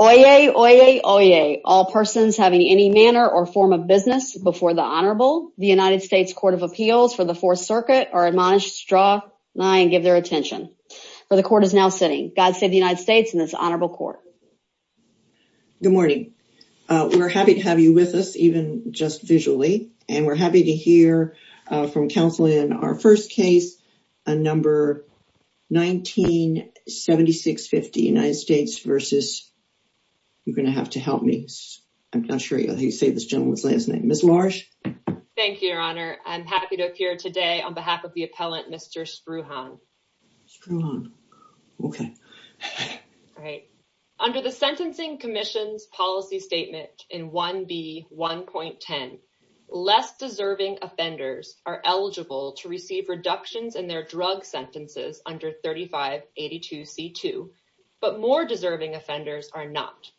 Oyez, oyez, oyez. All persons having any manner or form of business before the Honorable, the United States Court of Appeals for the Fourth Circuit, are admonished to draw nigh and give their attention. For the Court is now sitting. God save the United States and this Honorable Court. Good morning. We're happy to have you with us, even just visually, and we're happy to hear from counsel in our first case, a number 197650, United States versus, you're going to have to help me. I'm not sure how you say this gentleman's last name. Ms. Large. Thank you, Your Honor. I'm happy to appear today on behalf of the appellant, Mr. Spruhan. Spruhan. Okay. All right. Under the Sentencing Commission's policy statement in 1B1.10, less deserving offenders are eligible to receive reductions in their drug sentences under 3582C2, but more deserving offenders are not.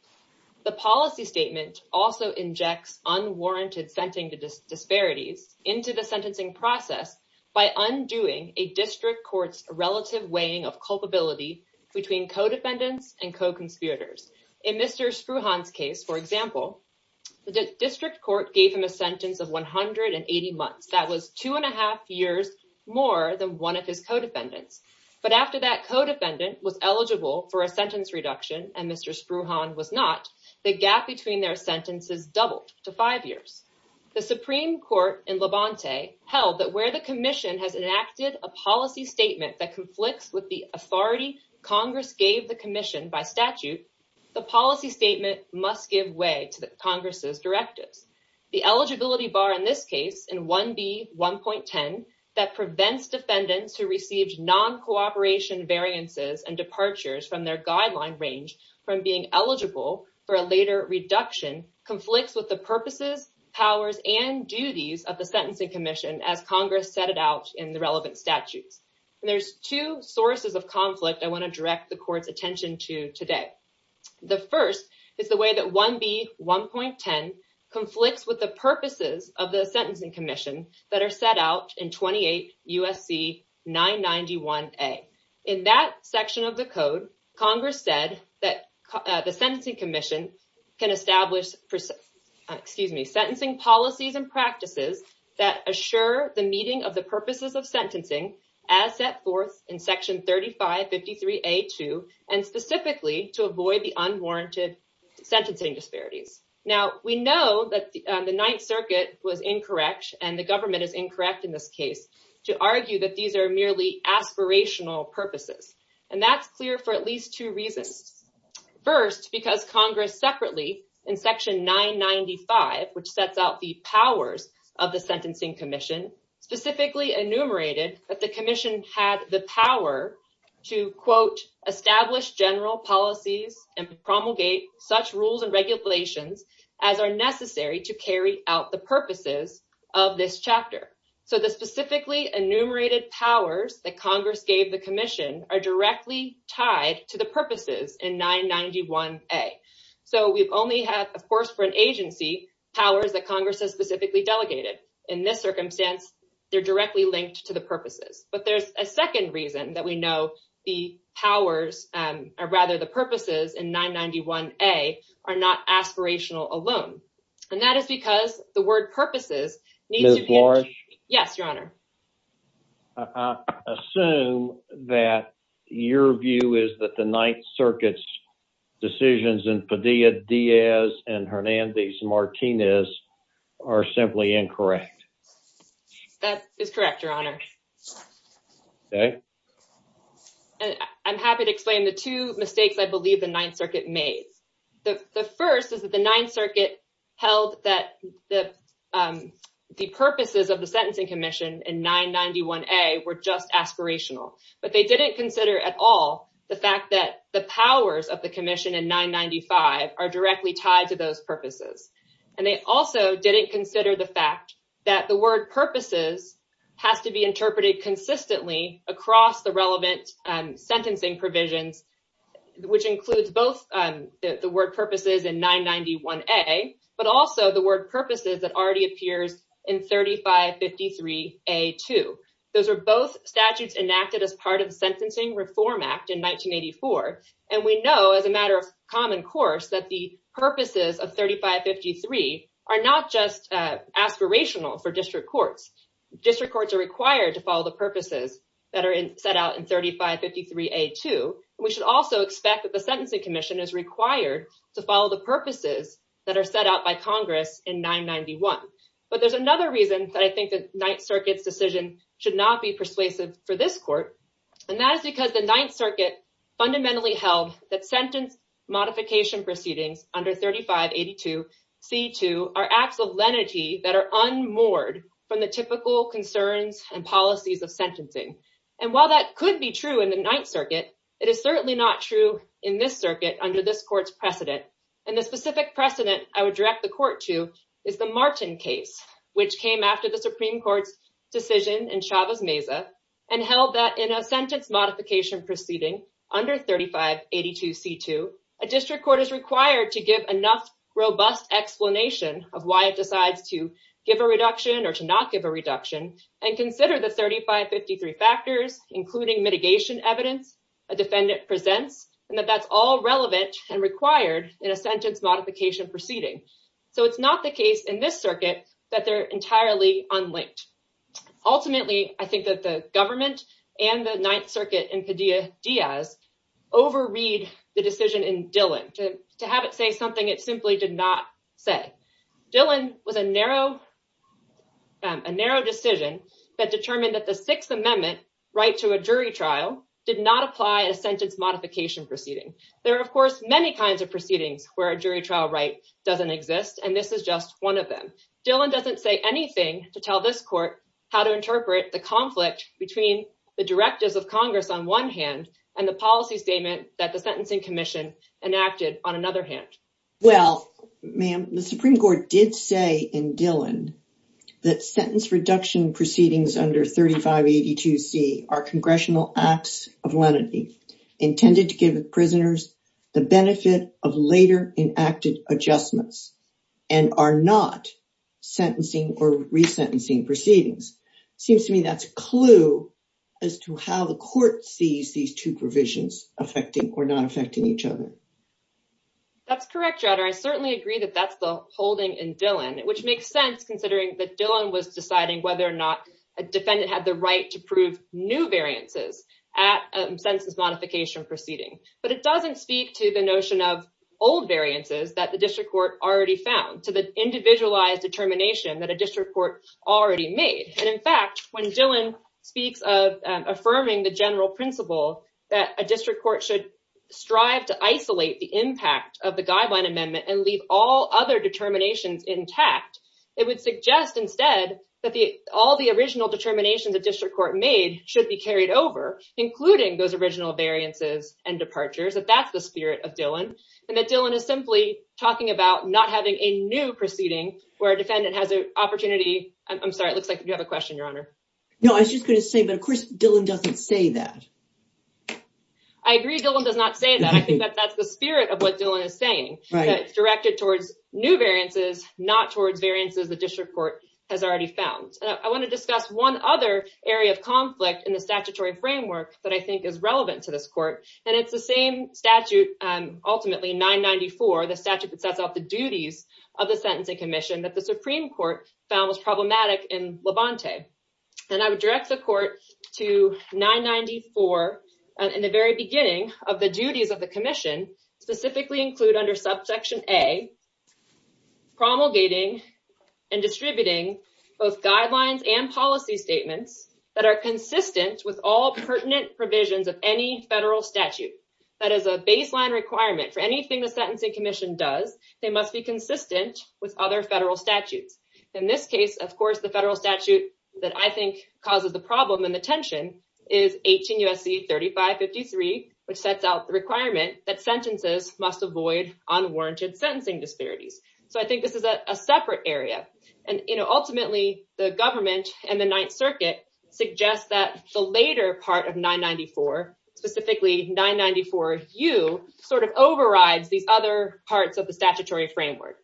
The policy statement also injects unwarranted sentencing disparities into the sentencing process by undoing a district court's relative weighing of culpability between co-defendants and co-conspirators. In Mr. Spruhan's example, the district court gave him a sentence of 180 months. That was two and a half years more than one of his co-defendants. But after that co-defendant was eligible for a sentence reduction and Mr. Spruhan was not, the gap between their sentences doubled to five years. The Supreme Court in Levante held that where the commission has enacted a policy statement that conflicts with the authority Congress gave the commission by statute, the policy statement must give way to the Congress's directives. The eligibility bar in this case in 1B1.10 that prevents defendants who received non-cooperation variances and departures from their guideline range from being eligible for a later reduction conflicts with the purposes, powers, and duties of the Sentencing Commission as Congress set it out in the relevant statutes. There's two sources of conflict I want to direct the court's attention to today. The first is 1B1.10 conflicts with the purposes of the Sentencing Commission that are set out in 28 USC 991A. In that section of the code, Congress said that the Sentencing Commission can establish sentencing policies and practices that assure the meeting of the purposes of sentencing as set forth in section 3553A.2 and specifically to avoid the unwarranted sentencing disparities. Now we know that the Ninth Circuit was incorrect and the government is incorrect in this case to argue that these are merely aspirational purposes and that's clear for at least two reasons. First, because Congress separately in section 995 which sets out the powers of the Sentencing Commission specifically enumerated that the Commission had the power to quote establish general policies and promulgate such rules and regulations as are necessary to carry out the purposes of this chapter. So the specifically enumerated powers that Congress gave the Commission are directly tied to the purposes in 991A. So we've only had for an agency powers that Congress has specifically delegated. In this circumstance, they're directly linked to the purposes. But there's a second reason that we know the powers or rather the purposes in 991A are not aspirational alone. And that is because the word purposes needs to be... Yes, your honor. I assume that your view is that the Ninth Circuit's Padilla-Diaz and Hernandez-Martinez are simply incorrect. That is correct, your honor. Okay. And I'm happy to explain the two mistakes I believe the Ninth Circuit made. The first is that the Ninth Circuit held that the purposes of the Sentencing Commission in 991A were just are directly tied to those purposes. And they also didn't consider the fact that the word purposes has to be interpreted consistently across the relevant sentencing provisions, which includes both the word purposes in 991A, but also the word purposes that already appears in 3553A2. Those are both statutes enacted as part of the Sentencing Reform Act in 1984. And we know as a matter of common course that the purposes of 3553 are not just aspirational for district courts. District courts are required to follow the purposes that are set out in 3553A2. We should also expect that the Sentencing Commission is required to follow the purposes that are set out by Congress in 991. But there's another reason that I think the Ninth Circuit's decision should not be persuasive for this court. And that is because the Ninth Circuit generally held that sentence modification proceedings under 3582C2 are acts of lenity that are unmoored from the typical concerns and policies of sentencing. And while that could be true in the Ninth Circuit, it is certainly not true in this circuit under this court's precedent. And the specific precedent I would direct the court to is the Martin case, which came after the Supreme Court's decision in Chavez-Meza and held that in a sentence modification proceeding under 3582C2, a district court is required to give enough robust explanation of why it decides to give a reduction or to not give a reduction and consider the 3553 factors, including mitigation evidence a defendant presents, and that that's all relevant and required in a sentence modification proceeding. So it's not the case in this circuit that they're entirely unlinked. Ultimately, I think that the government and the Ninth Circuit and Padilla-Diaz overread the decision in Dillon to have it say something it simply did not say. Dillon was a narrow decision that determined that the Sixth Amendment right to a jury trial did not apply a sentence modification proceeding. There are, of course, many kinds of proceedings where a jury trial right doesn't exist, and this is just one of them. Dillon doesn't say anything to tell this court how to interpret the conflict between the directives of Congress on one hand and the policy statement that the Sentencing Commission enacted on another hand. Well, ma'am, the Supreme Court did say in Dillon that sentence reduction proceedings under 3582C are congressional acts of lenity intended to give prisoners the right to prove new variances at a sentence modification proceeding. But it doesn't speak to the notion of old variances that the district court already found, to the individualized determination that a district court already made. And in fact, when Dillon speaks of affirming the general principle that a district court should strive to isolate the impact of the Guideline Amendment and leave all other determinations intact, it would suggest instead that all the original determinations the district court made should be carried over, including those original variances and departures, that that's the spirit of Dillon, and that Dillon is simply talking about not having a new proceeding where a defendant has an opportunity. I'm sorry, it looks like you have a question, your honor. No, I was just going to say, but of course Dillon doesn't say that. I agree Dillon does not say that. I think that that's the spirit of what Dillon is saying, that it's directed towards new variances, not towards variances the district court has already found. I want to discuss one other area of conflict in the statutory framework that I think is relevant to this court, and it's the same statute, ultimately 994, the statute that sets out the duties of the Sentencing Commission that the Supreme Court found was problematic in Levante. And I would direct the court to 994, in the very beginning of the duties of the commission, specifically include under subsection a, promulgating and distributing both guidelines and policy statements that are that is a baseline requirement for anything the Sentencing Commission does, they must be consistent with other federal statutes. In this case, of course, the federal statute that I think causes the problem and the tension is 18 U.S.C. 3553, which sets out the requirement that sentences must avoid unwarranted sentencing disparities. So I think this is a separate area, and ultimately the government and the Ninth Circuit suggest that the later part of 994, specifically 994U, sort of overrides these other parts of the statutory framework.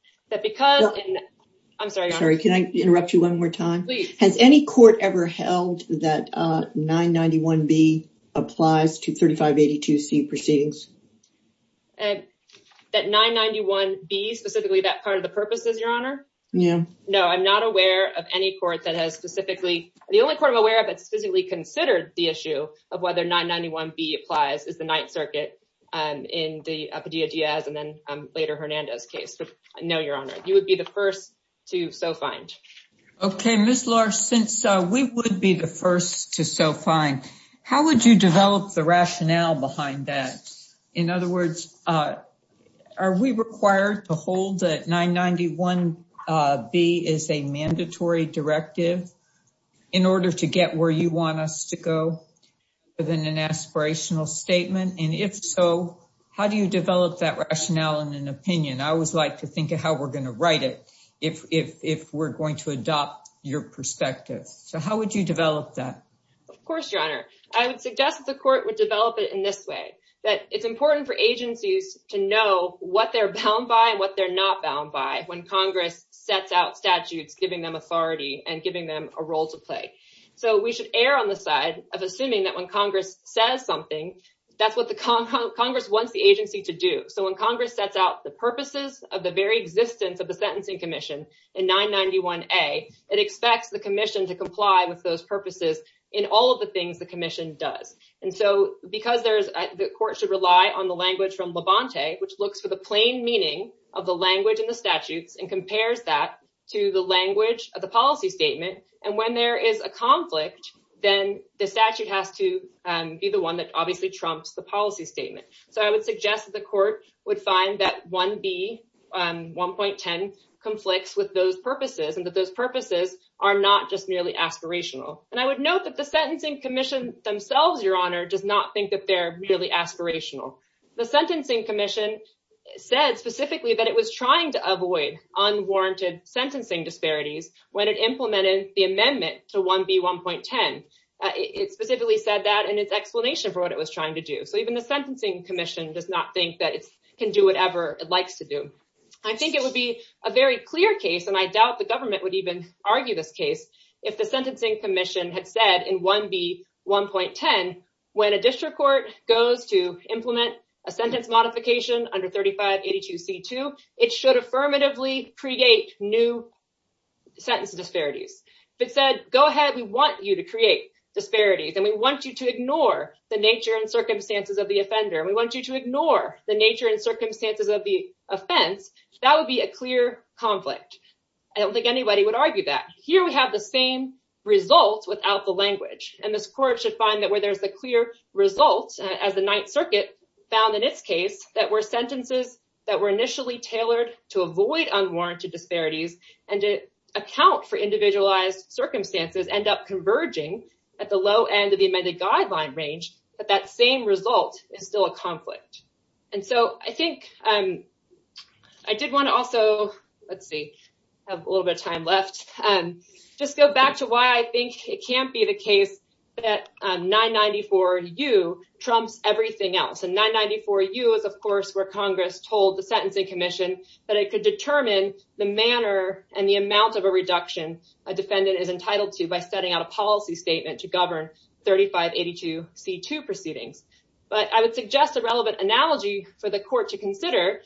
I'm sorry, can I interrupt you one more time? Has any court ever held that 991B applies to 3582C proceedings? That 991B, specifically that part of the purposes, your honor? No, I'm not aware of any court that has specifically, the only court I'm aware of that's physically considered the issue of whether 991B applies is the Ninth Circuit in the Padilla-Diaz and then later Hernandez case. But no, your honor, you would be the first to so find. Okay, Ms. Larch, since we would be the first to so find, how would you develop the rationale behind that? In other words, are we required to hold that 991B is a mandatory directive in order to get where you want us to go within an aspirational statement? And if so, how do you develop that rationale and an opinion? I always like to think of how we're going to write it if we're going to adopt your perspective. So how would you develop that? Of course, I would suggest that the court would develop it in this way, that it's important for agencies to know what they're bound by and what they're not bound by when Congress sets out statutes, giving them authority and giving them a role to play. So we should err on the side of assuming that when Congress says something, that's what the Congress wants the agency to do. So when Congress sets out the purposes of the very existence of the Sentencing Commission in 991A, it expects the commission to comply with those purposes in all of the things the commission does. And so because the court should rely on the language from Labonte, which looks for the plain meaning of the language in the statutes and compares that to the language of the policy statement. And when there is a conflict, then the statute has to be the one that obviously trumps the policy statement. So I would suggest that the court would find that 1B, 1.10 conflicts with those purposes and that those purposes are not just merely aspirational. And I would note that the Sentencing Commission themselves, Your Honor, does not think that they're merely aspirational. The Sentencing Commission said specifically that it was trying to avoid unwarranted sentencing disparities when it implemented the amendment to 1B, 1.10. It specifically said that in its explanation for what it was trying to do. So even the Sentencing Commission does not think that it can do whatever it likes to do. I think it would be a very clear case, and I doubt the government would even argue this case, if the Sentencing Commission had said in 1B, 1.10, when a district court goes to implement a sentence modification under 3582C2, it should affirmatively create new sentence disparities. If it said, go ahead, we want you to create disparities, and we want you to ignore the nature and circumstances of the offender, and we want you to ignore the nature and circumstances of the offense, that would be a clear conflict. I don't think anybody would argue that. Here we have the same result without the language, and this court should find that where there's a clear result, as the Ninth Circuit found in its case, that were sentences that were initially tailored to avoid unwarranted disparities and to account for individualized circumstances end up converging at the low end of the amended guideline range, but that same result is still a conflict. I did want to also, let's see, have a little bit of time left, just go back to why I think it can't be the case that 994U trumps everything else. 994U is, of course, where Congress told the Sentencing Commission that it could determine the manner and the amount of a reduction a defendant is entitled to by setting out a policy statement to govern 3582C2 proceedings, but I would suggest a relevant analogy for the court to consider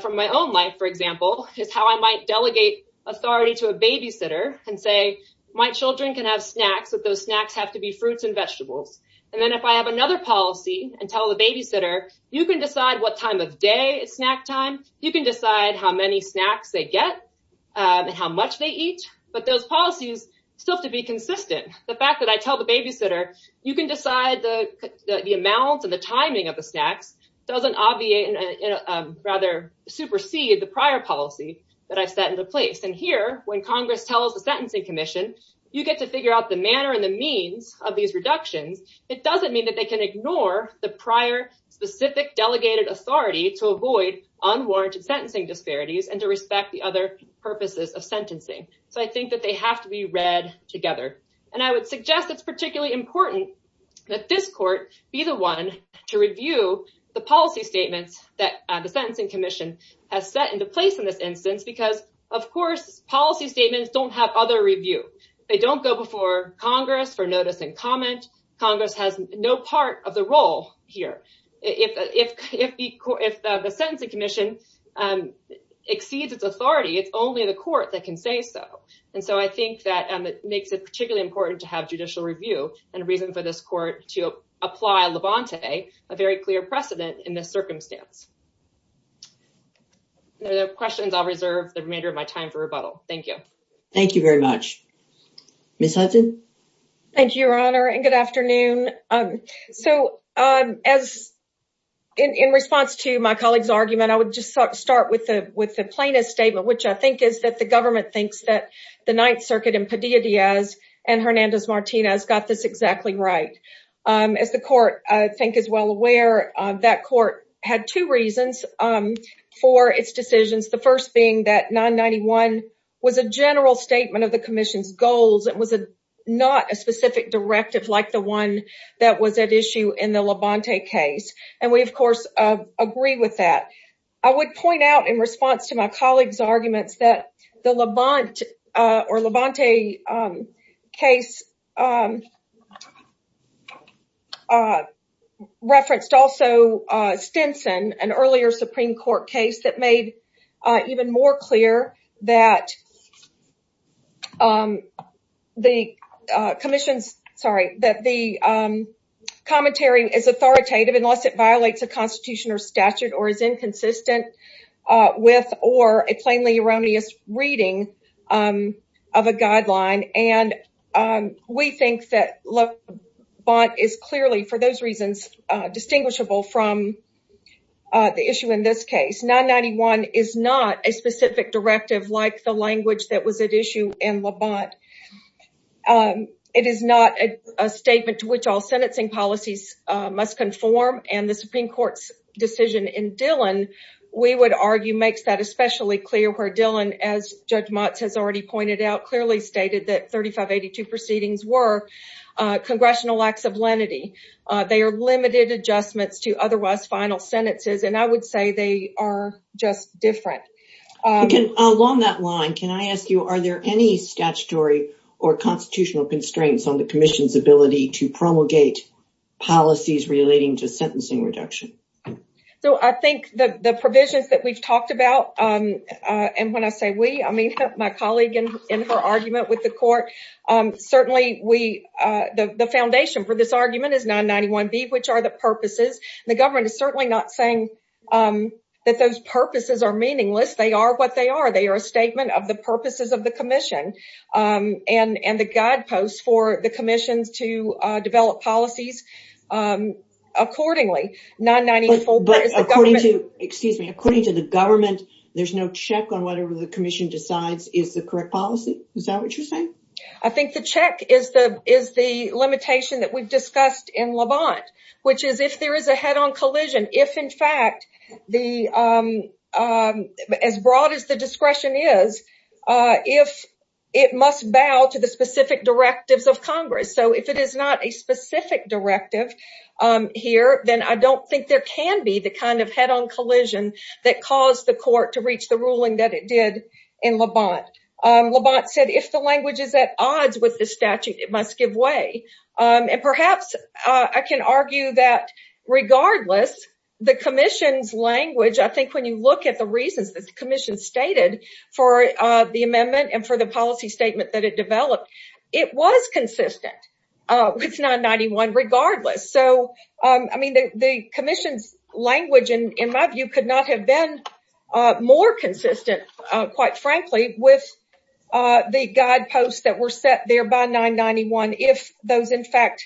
from my own life, for example, is how I might delegate authority to a babysitter and say my children can have snacks, but those snacks have to be fruits and vegetables, and then if I have another policy and tell the babysitter, you can decide what time of day is snack time, you can decide how many snacks they get and how much they eat, but those policies still have to be consistent. The fact that I tell the babysitter you can decide the amount and the timing of the snacks doesn't obviate and rather supersede the prior policy that I've set into place, and here when Congress tells the Sentencing Commission you get to figure out the manner and the means of these reductions, it doesn't mean that they can ignore the prior specific delegated authority to avoid unwarranted sentencing disparities and to respect the other purposes of sentencing, so I think that they have to be read together, and I would suggest it's particularly important that this court be the one to review the policy statements that the Sentencing Commission has set into place in this instance because, of course, policy statements don't have other review. They don't go before Congress for notice and comment. Congress has no part of the role here. If the Sentencing Commission exceeds its authority, it's only the court that can say so, and so I think that it makes it particularly important to have judicial review and a reason for this court to apply Levante, a very clear precedent in this circumstance. There are questions I'll reserve the remainder of my time for rebuttal. Thank you. Thank you very much. Ms. Hudson? Thank you, Your Honor, and good afternoon. So, in response to my colleague's argument, I would just start with the plainest statement, which I think is that the government thinks that the Ninth Circuit and Padilla-Diaz and Hernandez-Martinez got this exactly right. As the court, I think, is well aware, that court had two reasons for its decisions, the first being that 991 was a general statement of the Commission's goals. It was not a specific I would point out in response to my colleague's arguments that the Levante case referenced also Stinson, an earlier Supreme Court case that made even more clear that the Commission's, sorry, that the commentary is authoritative unless it violates a Constitution or statute or is inconsistent with or a plainly erroneous reading of a guideline. And we think that Levante is clearly, for those reasons, distinguishable from the issue in this case. 991 is not a specific directive like the language that was at issue in Levante. It is not a decision in Dillon. We would argue makes that especially clear where Dillon, as Judge Motz has already pointed out, clearly stated that 3582 proceedings were congressional acts of lenity. They are limited adjustments to otherwise final sentences and I would say they are just different. Along that line, can I ask you, are there any statutory or constitutional constraints on the Commission's ability to promulgate policies relating to sentencing reduction? So, I think the provisions that we've talked about, and when I say we, I mean my colleague in her argument with the Court, certainly the foundation for this argument is 991B, which are the purposes. The government is certainly not saying that those purposes are meaningless. They are what they are. They are a statement of the purposes of the Commission and the guideposts for the Commission's to develop policies accordingly. But according to the government, there's no check on whether the Commission decides is the correct policy? Is that what you're saying? I think the check is the limitation that we've discussed in Levante, which is if there is a head-on collision, if in fact, as broad as the discretion is, if it must bow to the specific directives of Congress. So, if it is not a specific directive here, then I don't think there can be the kind of head-on collision that caused the Court to reach the ruling that it did in Levante. Levante said if the language is at odds with the statute, it must give way. And perhaps I can argue that regardless, the Commission's language, I think when you look at the reasons that the Commission stated for the amendment and for the policy statement that it was consistent with 991 regardless. So, I mean, the Commission's language, in my view, could not have been more consistent, quite frankly, with the guideposts that were set there by 991 if those, in fact,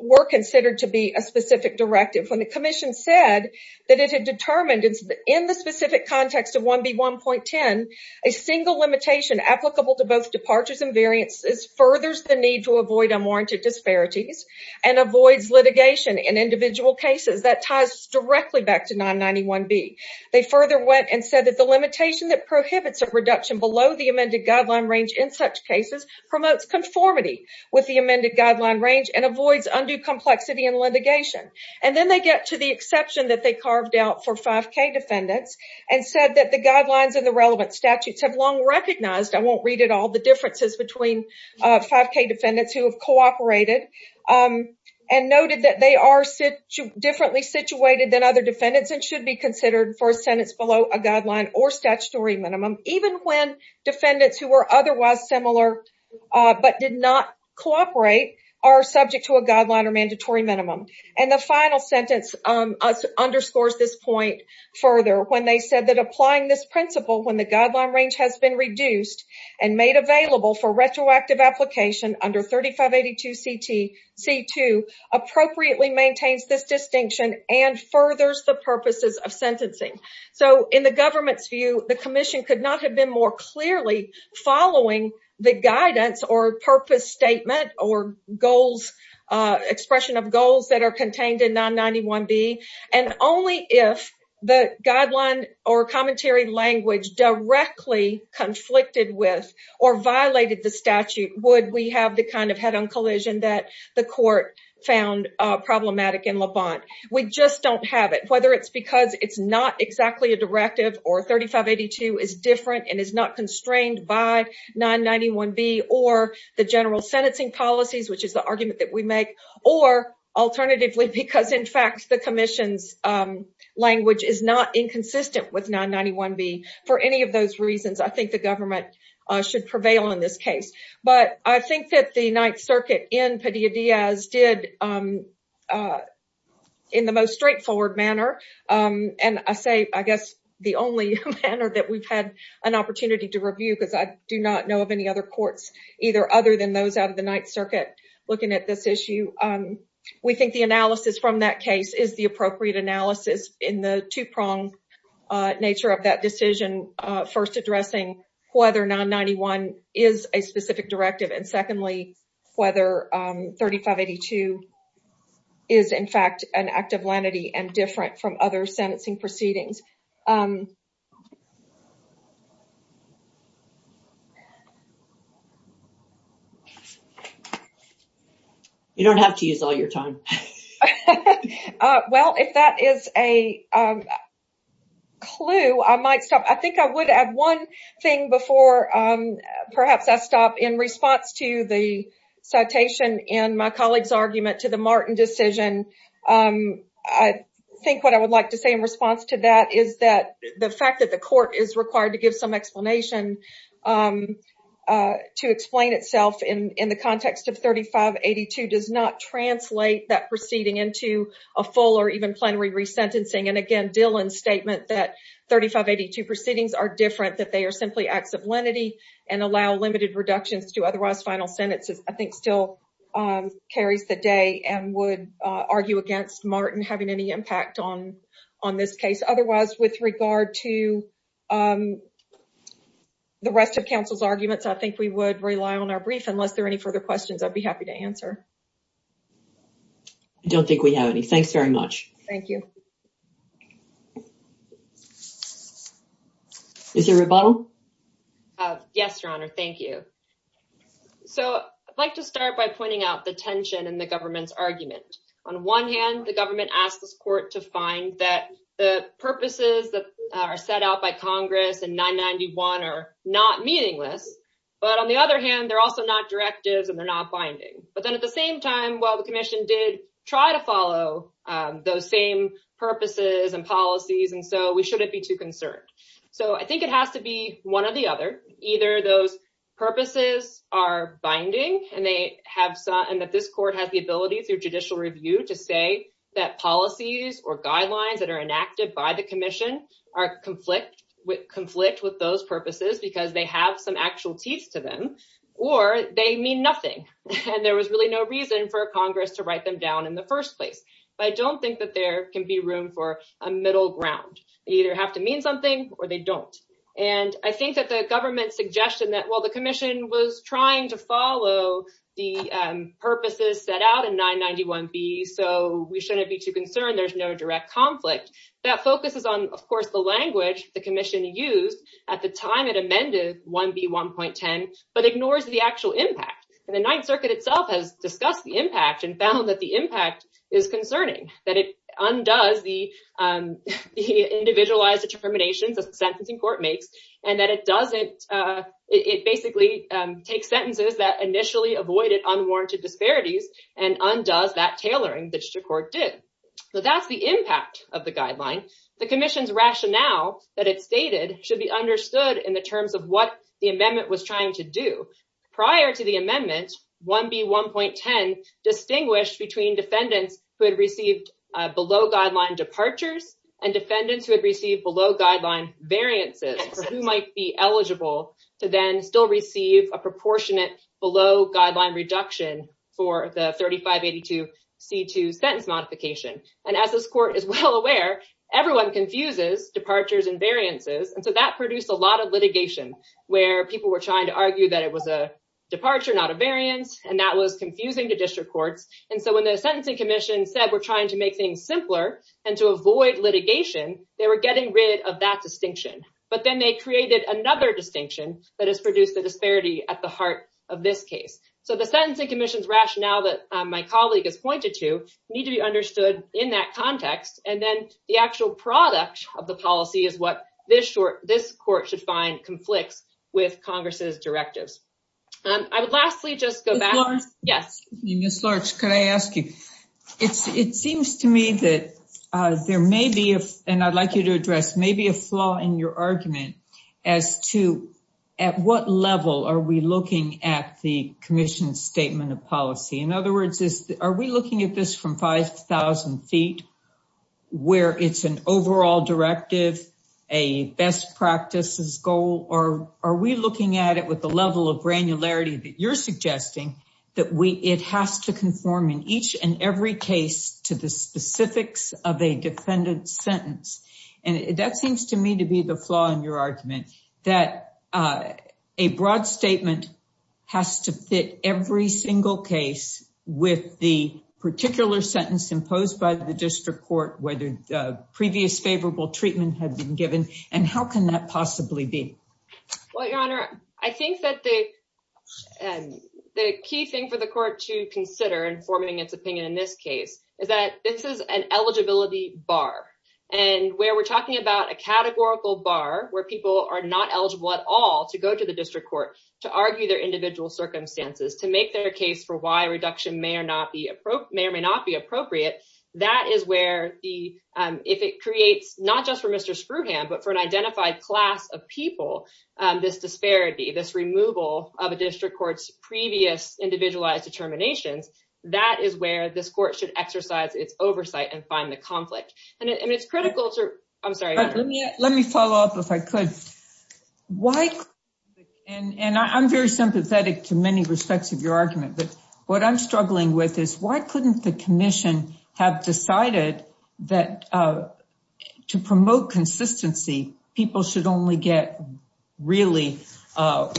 were considered to be a specific directive. When the Commission said that it had determined in the specific context of 1B1.10, a single limitation applicable to both departures and variances furthers the need to avoid unwarranted disparities and avoids litigation in individual cases, that ties directly back to 991B. They further went and said that the limitation that prohibits a reduction below the amended guideline range in such cases promotes conformity with the amended guideline range and avoids undue complexity in litigation. And then they get to the exception that they carved out for 5K defendants and said that the 5K defendants who have cooperated and noted that they are differently situated than other defendants and should be considered for a sentence below a guideline or statutory minimum, even when defendants who were otherwise similar but did not cooperate are subject to a guideline or mandatory minimum. And the final sentence underscores this point further when they said that applying this retroactive application under 3582C2 appropriately maintains this distinction and furthers the purposes of sentencing. So, in the government's view, the Commission could not have been more clearly following the guidance or purpose statement or goals, expression of goals that are contained in 991B and only if the guideline or commentary language directly conflicted with or violated the statute would we have the kind of head-on collision that the court found problematic in Levant. We just don't have it, whether it's because it's not exactly a directive or 3582 is different and is not constrained by 991B or the general sentencing policies, which is the argument that we make, or alternatively because, in fact, the Commission's language is not inconsistent with 991B. For any of those reasons, I think the government should prevail in this case. But I think that the Ninth Circuit in Padilla-Diaz did in the most straightforward manner, and I say, I guess, the only manner that we've had an opportunity to review because I do not know of any other courts either other than those out of the Ninth Circuit looking at this issue. We think the analysis from that case is the appropriate analysis in the two-prong nature of that decision, first addressing whether 991 is a specific directive, and secondly, whether 3582 is, in fact, an act of lenity and different from other sentencing proceedings. You don't have to use all your time. Well, if that is a clue, I might stop. I think I would add one thing before perhaps I stop. In response to the citation and my colleague's argument to the Martin decision, I think what I would like to say in response to that is that the fact that the court is required to give some preceding into a full or even plenary resentencing, and again, Dillon's statement that 3582 proceedings are different, that they are simply acts of lenity and allow limited reductions to otherwise final sentences, I think still carries the day and would argue against Martin having any impact on this case. Otherwise, with regard to the rest of counsel's arguments, I think we would rely on our brief. Unless there are any further questions, I'd be happy to answer. I don't think we have any. Thanks very much. Thank you. Is there a rebuttal? Yes, Your Honor. Thank you. So, I'd like to start by pointing out the tension in the government's argument. On one hand, the government asked this court to find that the purposes that are set out by Congress and 991 are not meaningless, but on the other hand, they're also not directives and they're binding. But then at the same time, while the commission did try to follow those same purposes and policies, and so we shouldn't be too concerned. So, I think it has to be one or the other, either those purposes are binding and that this court has the ability through judicial review to say that policies or guidelines that are enacted by the commission conflict with those purposes because they have some actual teeth to them or they mean nothing. And there was really no reason for Congress to write them down in the first place. But I don't think that there can be room for a middle ground. They either have to mean something or they don't. And I think that the government's suggestion that while the commission was trying to follow the purposes set out in 991B, so we shouldn't be too concerned, there's no direct conflict. That focuses on, of course, the language the commission used at the time it amended 1B.1.10, but ignores the actual impact. And the Ninth Circuit itself has discussed the impact and found that the impact is concerning, that it undoes the individualized determinations that the sentencing court makes, and that it basically takes sentences that initially avoided unwarranted disparities and undoes that tailoring court did. But that's the impact of the guideline. The commission's rationale that it stated should be understood in the terms of what the amendment was trying to do. Prior to the amendment, 1B.1.10 distinguished between defendants who had received below guideline departures and defendants who had received below guideline variances for who might be eligible to then still receive a sentence modification. And as this court is well aware, everyone confuses departures and variances. And so that produced a lot of litigation where people were trying to argue that it was a departure, not a variance, and that was confusing to district courts. And so when the sentencing commission said we're trying to make things simpler and to avoid litigation, they were getting rid of that distinction. But then they created another distinction that has produced the disparity at the heart of this case. So the sentencing commission's rationale that my colleague has need to be understood in that context. And then the actual product of the policy is what this court should find conflicts with Congress's directives. I would lastly just go back. Yes. Ms. Larch, could I ask you? It seems to me that there may be, and I'd like you to address, maybe a flaw in your argument as to at what level are we looking at the commission's statement of 5,000 feet, where it's an overall directive, a best practices goal, or are we looking at it with the level of granularity that you're suggesting that it has to conform in each and every case to the specifics of a defendant's sentence? And that seems to me to be the flaw in your argument that a broad statement has to fit every single case with the particular sentence imposed by the district court, whether the previous favorable treatment had been given, and how can that possibly be? Well, Your Honor, I think that the key thing for the court to consider in forming its opinion in this case is that this is an eligibility bar. And where we're talking about a categorical bar where people are not eligible at all to go to the district court to argue their individual circumstances, to make their case for why reduction may or may not be appropriate, that is where if it creates, not just for Mr. Screwham, but for an identified class of people, this disparity, this removal of a district court's previous individualized determinations, that is where this court should exercise its oversight and find the conflict. And it's Let me follow up if I could. And I'm very sympathetic to many respects of your argument, but what I'm struggling with is why couldn't the commission have decided that to promote consistency, people should only get really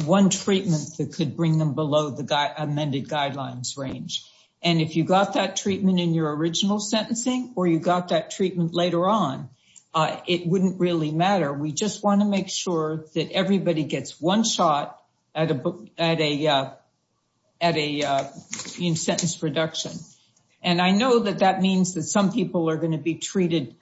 one treatment that could bring them below the amended guidelines range. And if you got that treatment in your original sentencing, or you just want to make sure that everybody gets one shot at a sentence reduction. And I know that that means that some people are going to be treated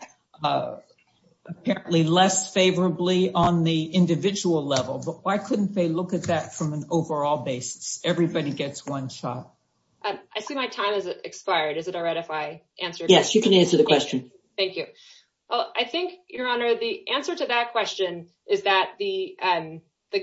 apparently less favorably on the individual level. But why couldn't they look at that from an overall basis? Everybody gets one shot. I see my time has expired. Is it all right if I answer? Yes, you can answer the question. Thank you. I think, Your Honor, the answer to that question is that the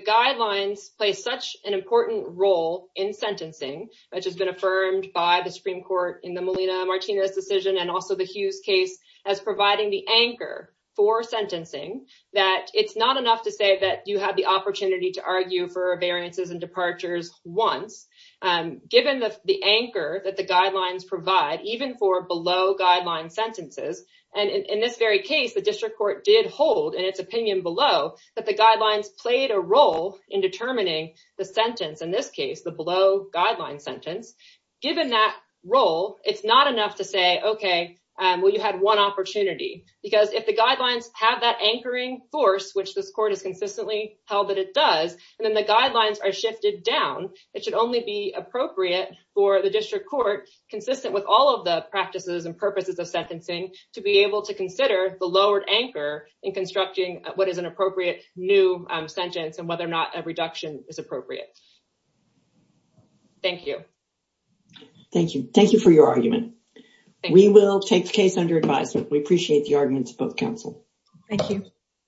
guidelines play such an important role in sentencing, which has been affirmed by the Supreme Court in the Melina Martinez decision and also the Hughes case as providing the anchor for sentencing, that it's not enough to say that you have the opportunity to argue for variances and departures once, given the anchor that the guidelines provide, even for below-guideline sentences. And in this very case, the district court did hold, in its opinion below, that the guidelines played a role in determining the sentence, in this case, the below-guideline sentence. Given that role, it's not enough to say, okay, well, you had one opportunity. Because if the guidelines have that anchoring force, which this court has consistently held that it does, and then the guidelines are shifted down, it should only be appropriate for the district court, consistent with all of the practices and purposes of sentencing, to be able to consider the lowered anchor in constructing what is an appropriate new sentence and whether or not a reduction is appropriate. Thank you. Thank you. Thank you for your argument. We will take the case under advisement. We appreciate the arguments of both counsel. Thank you.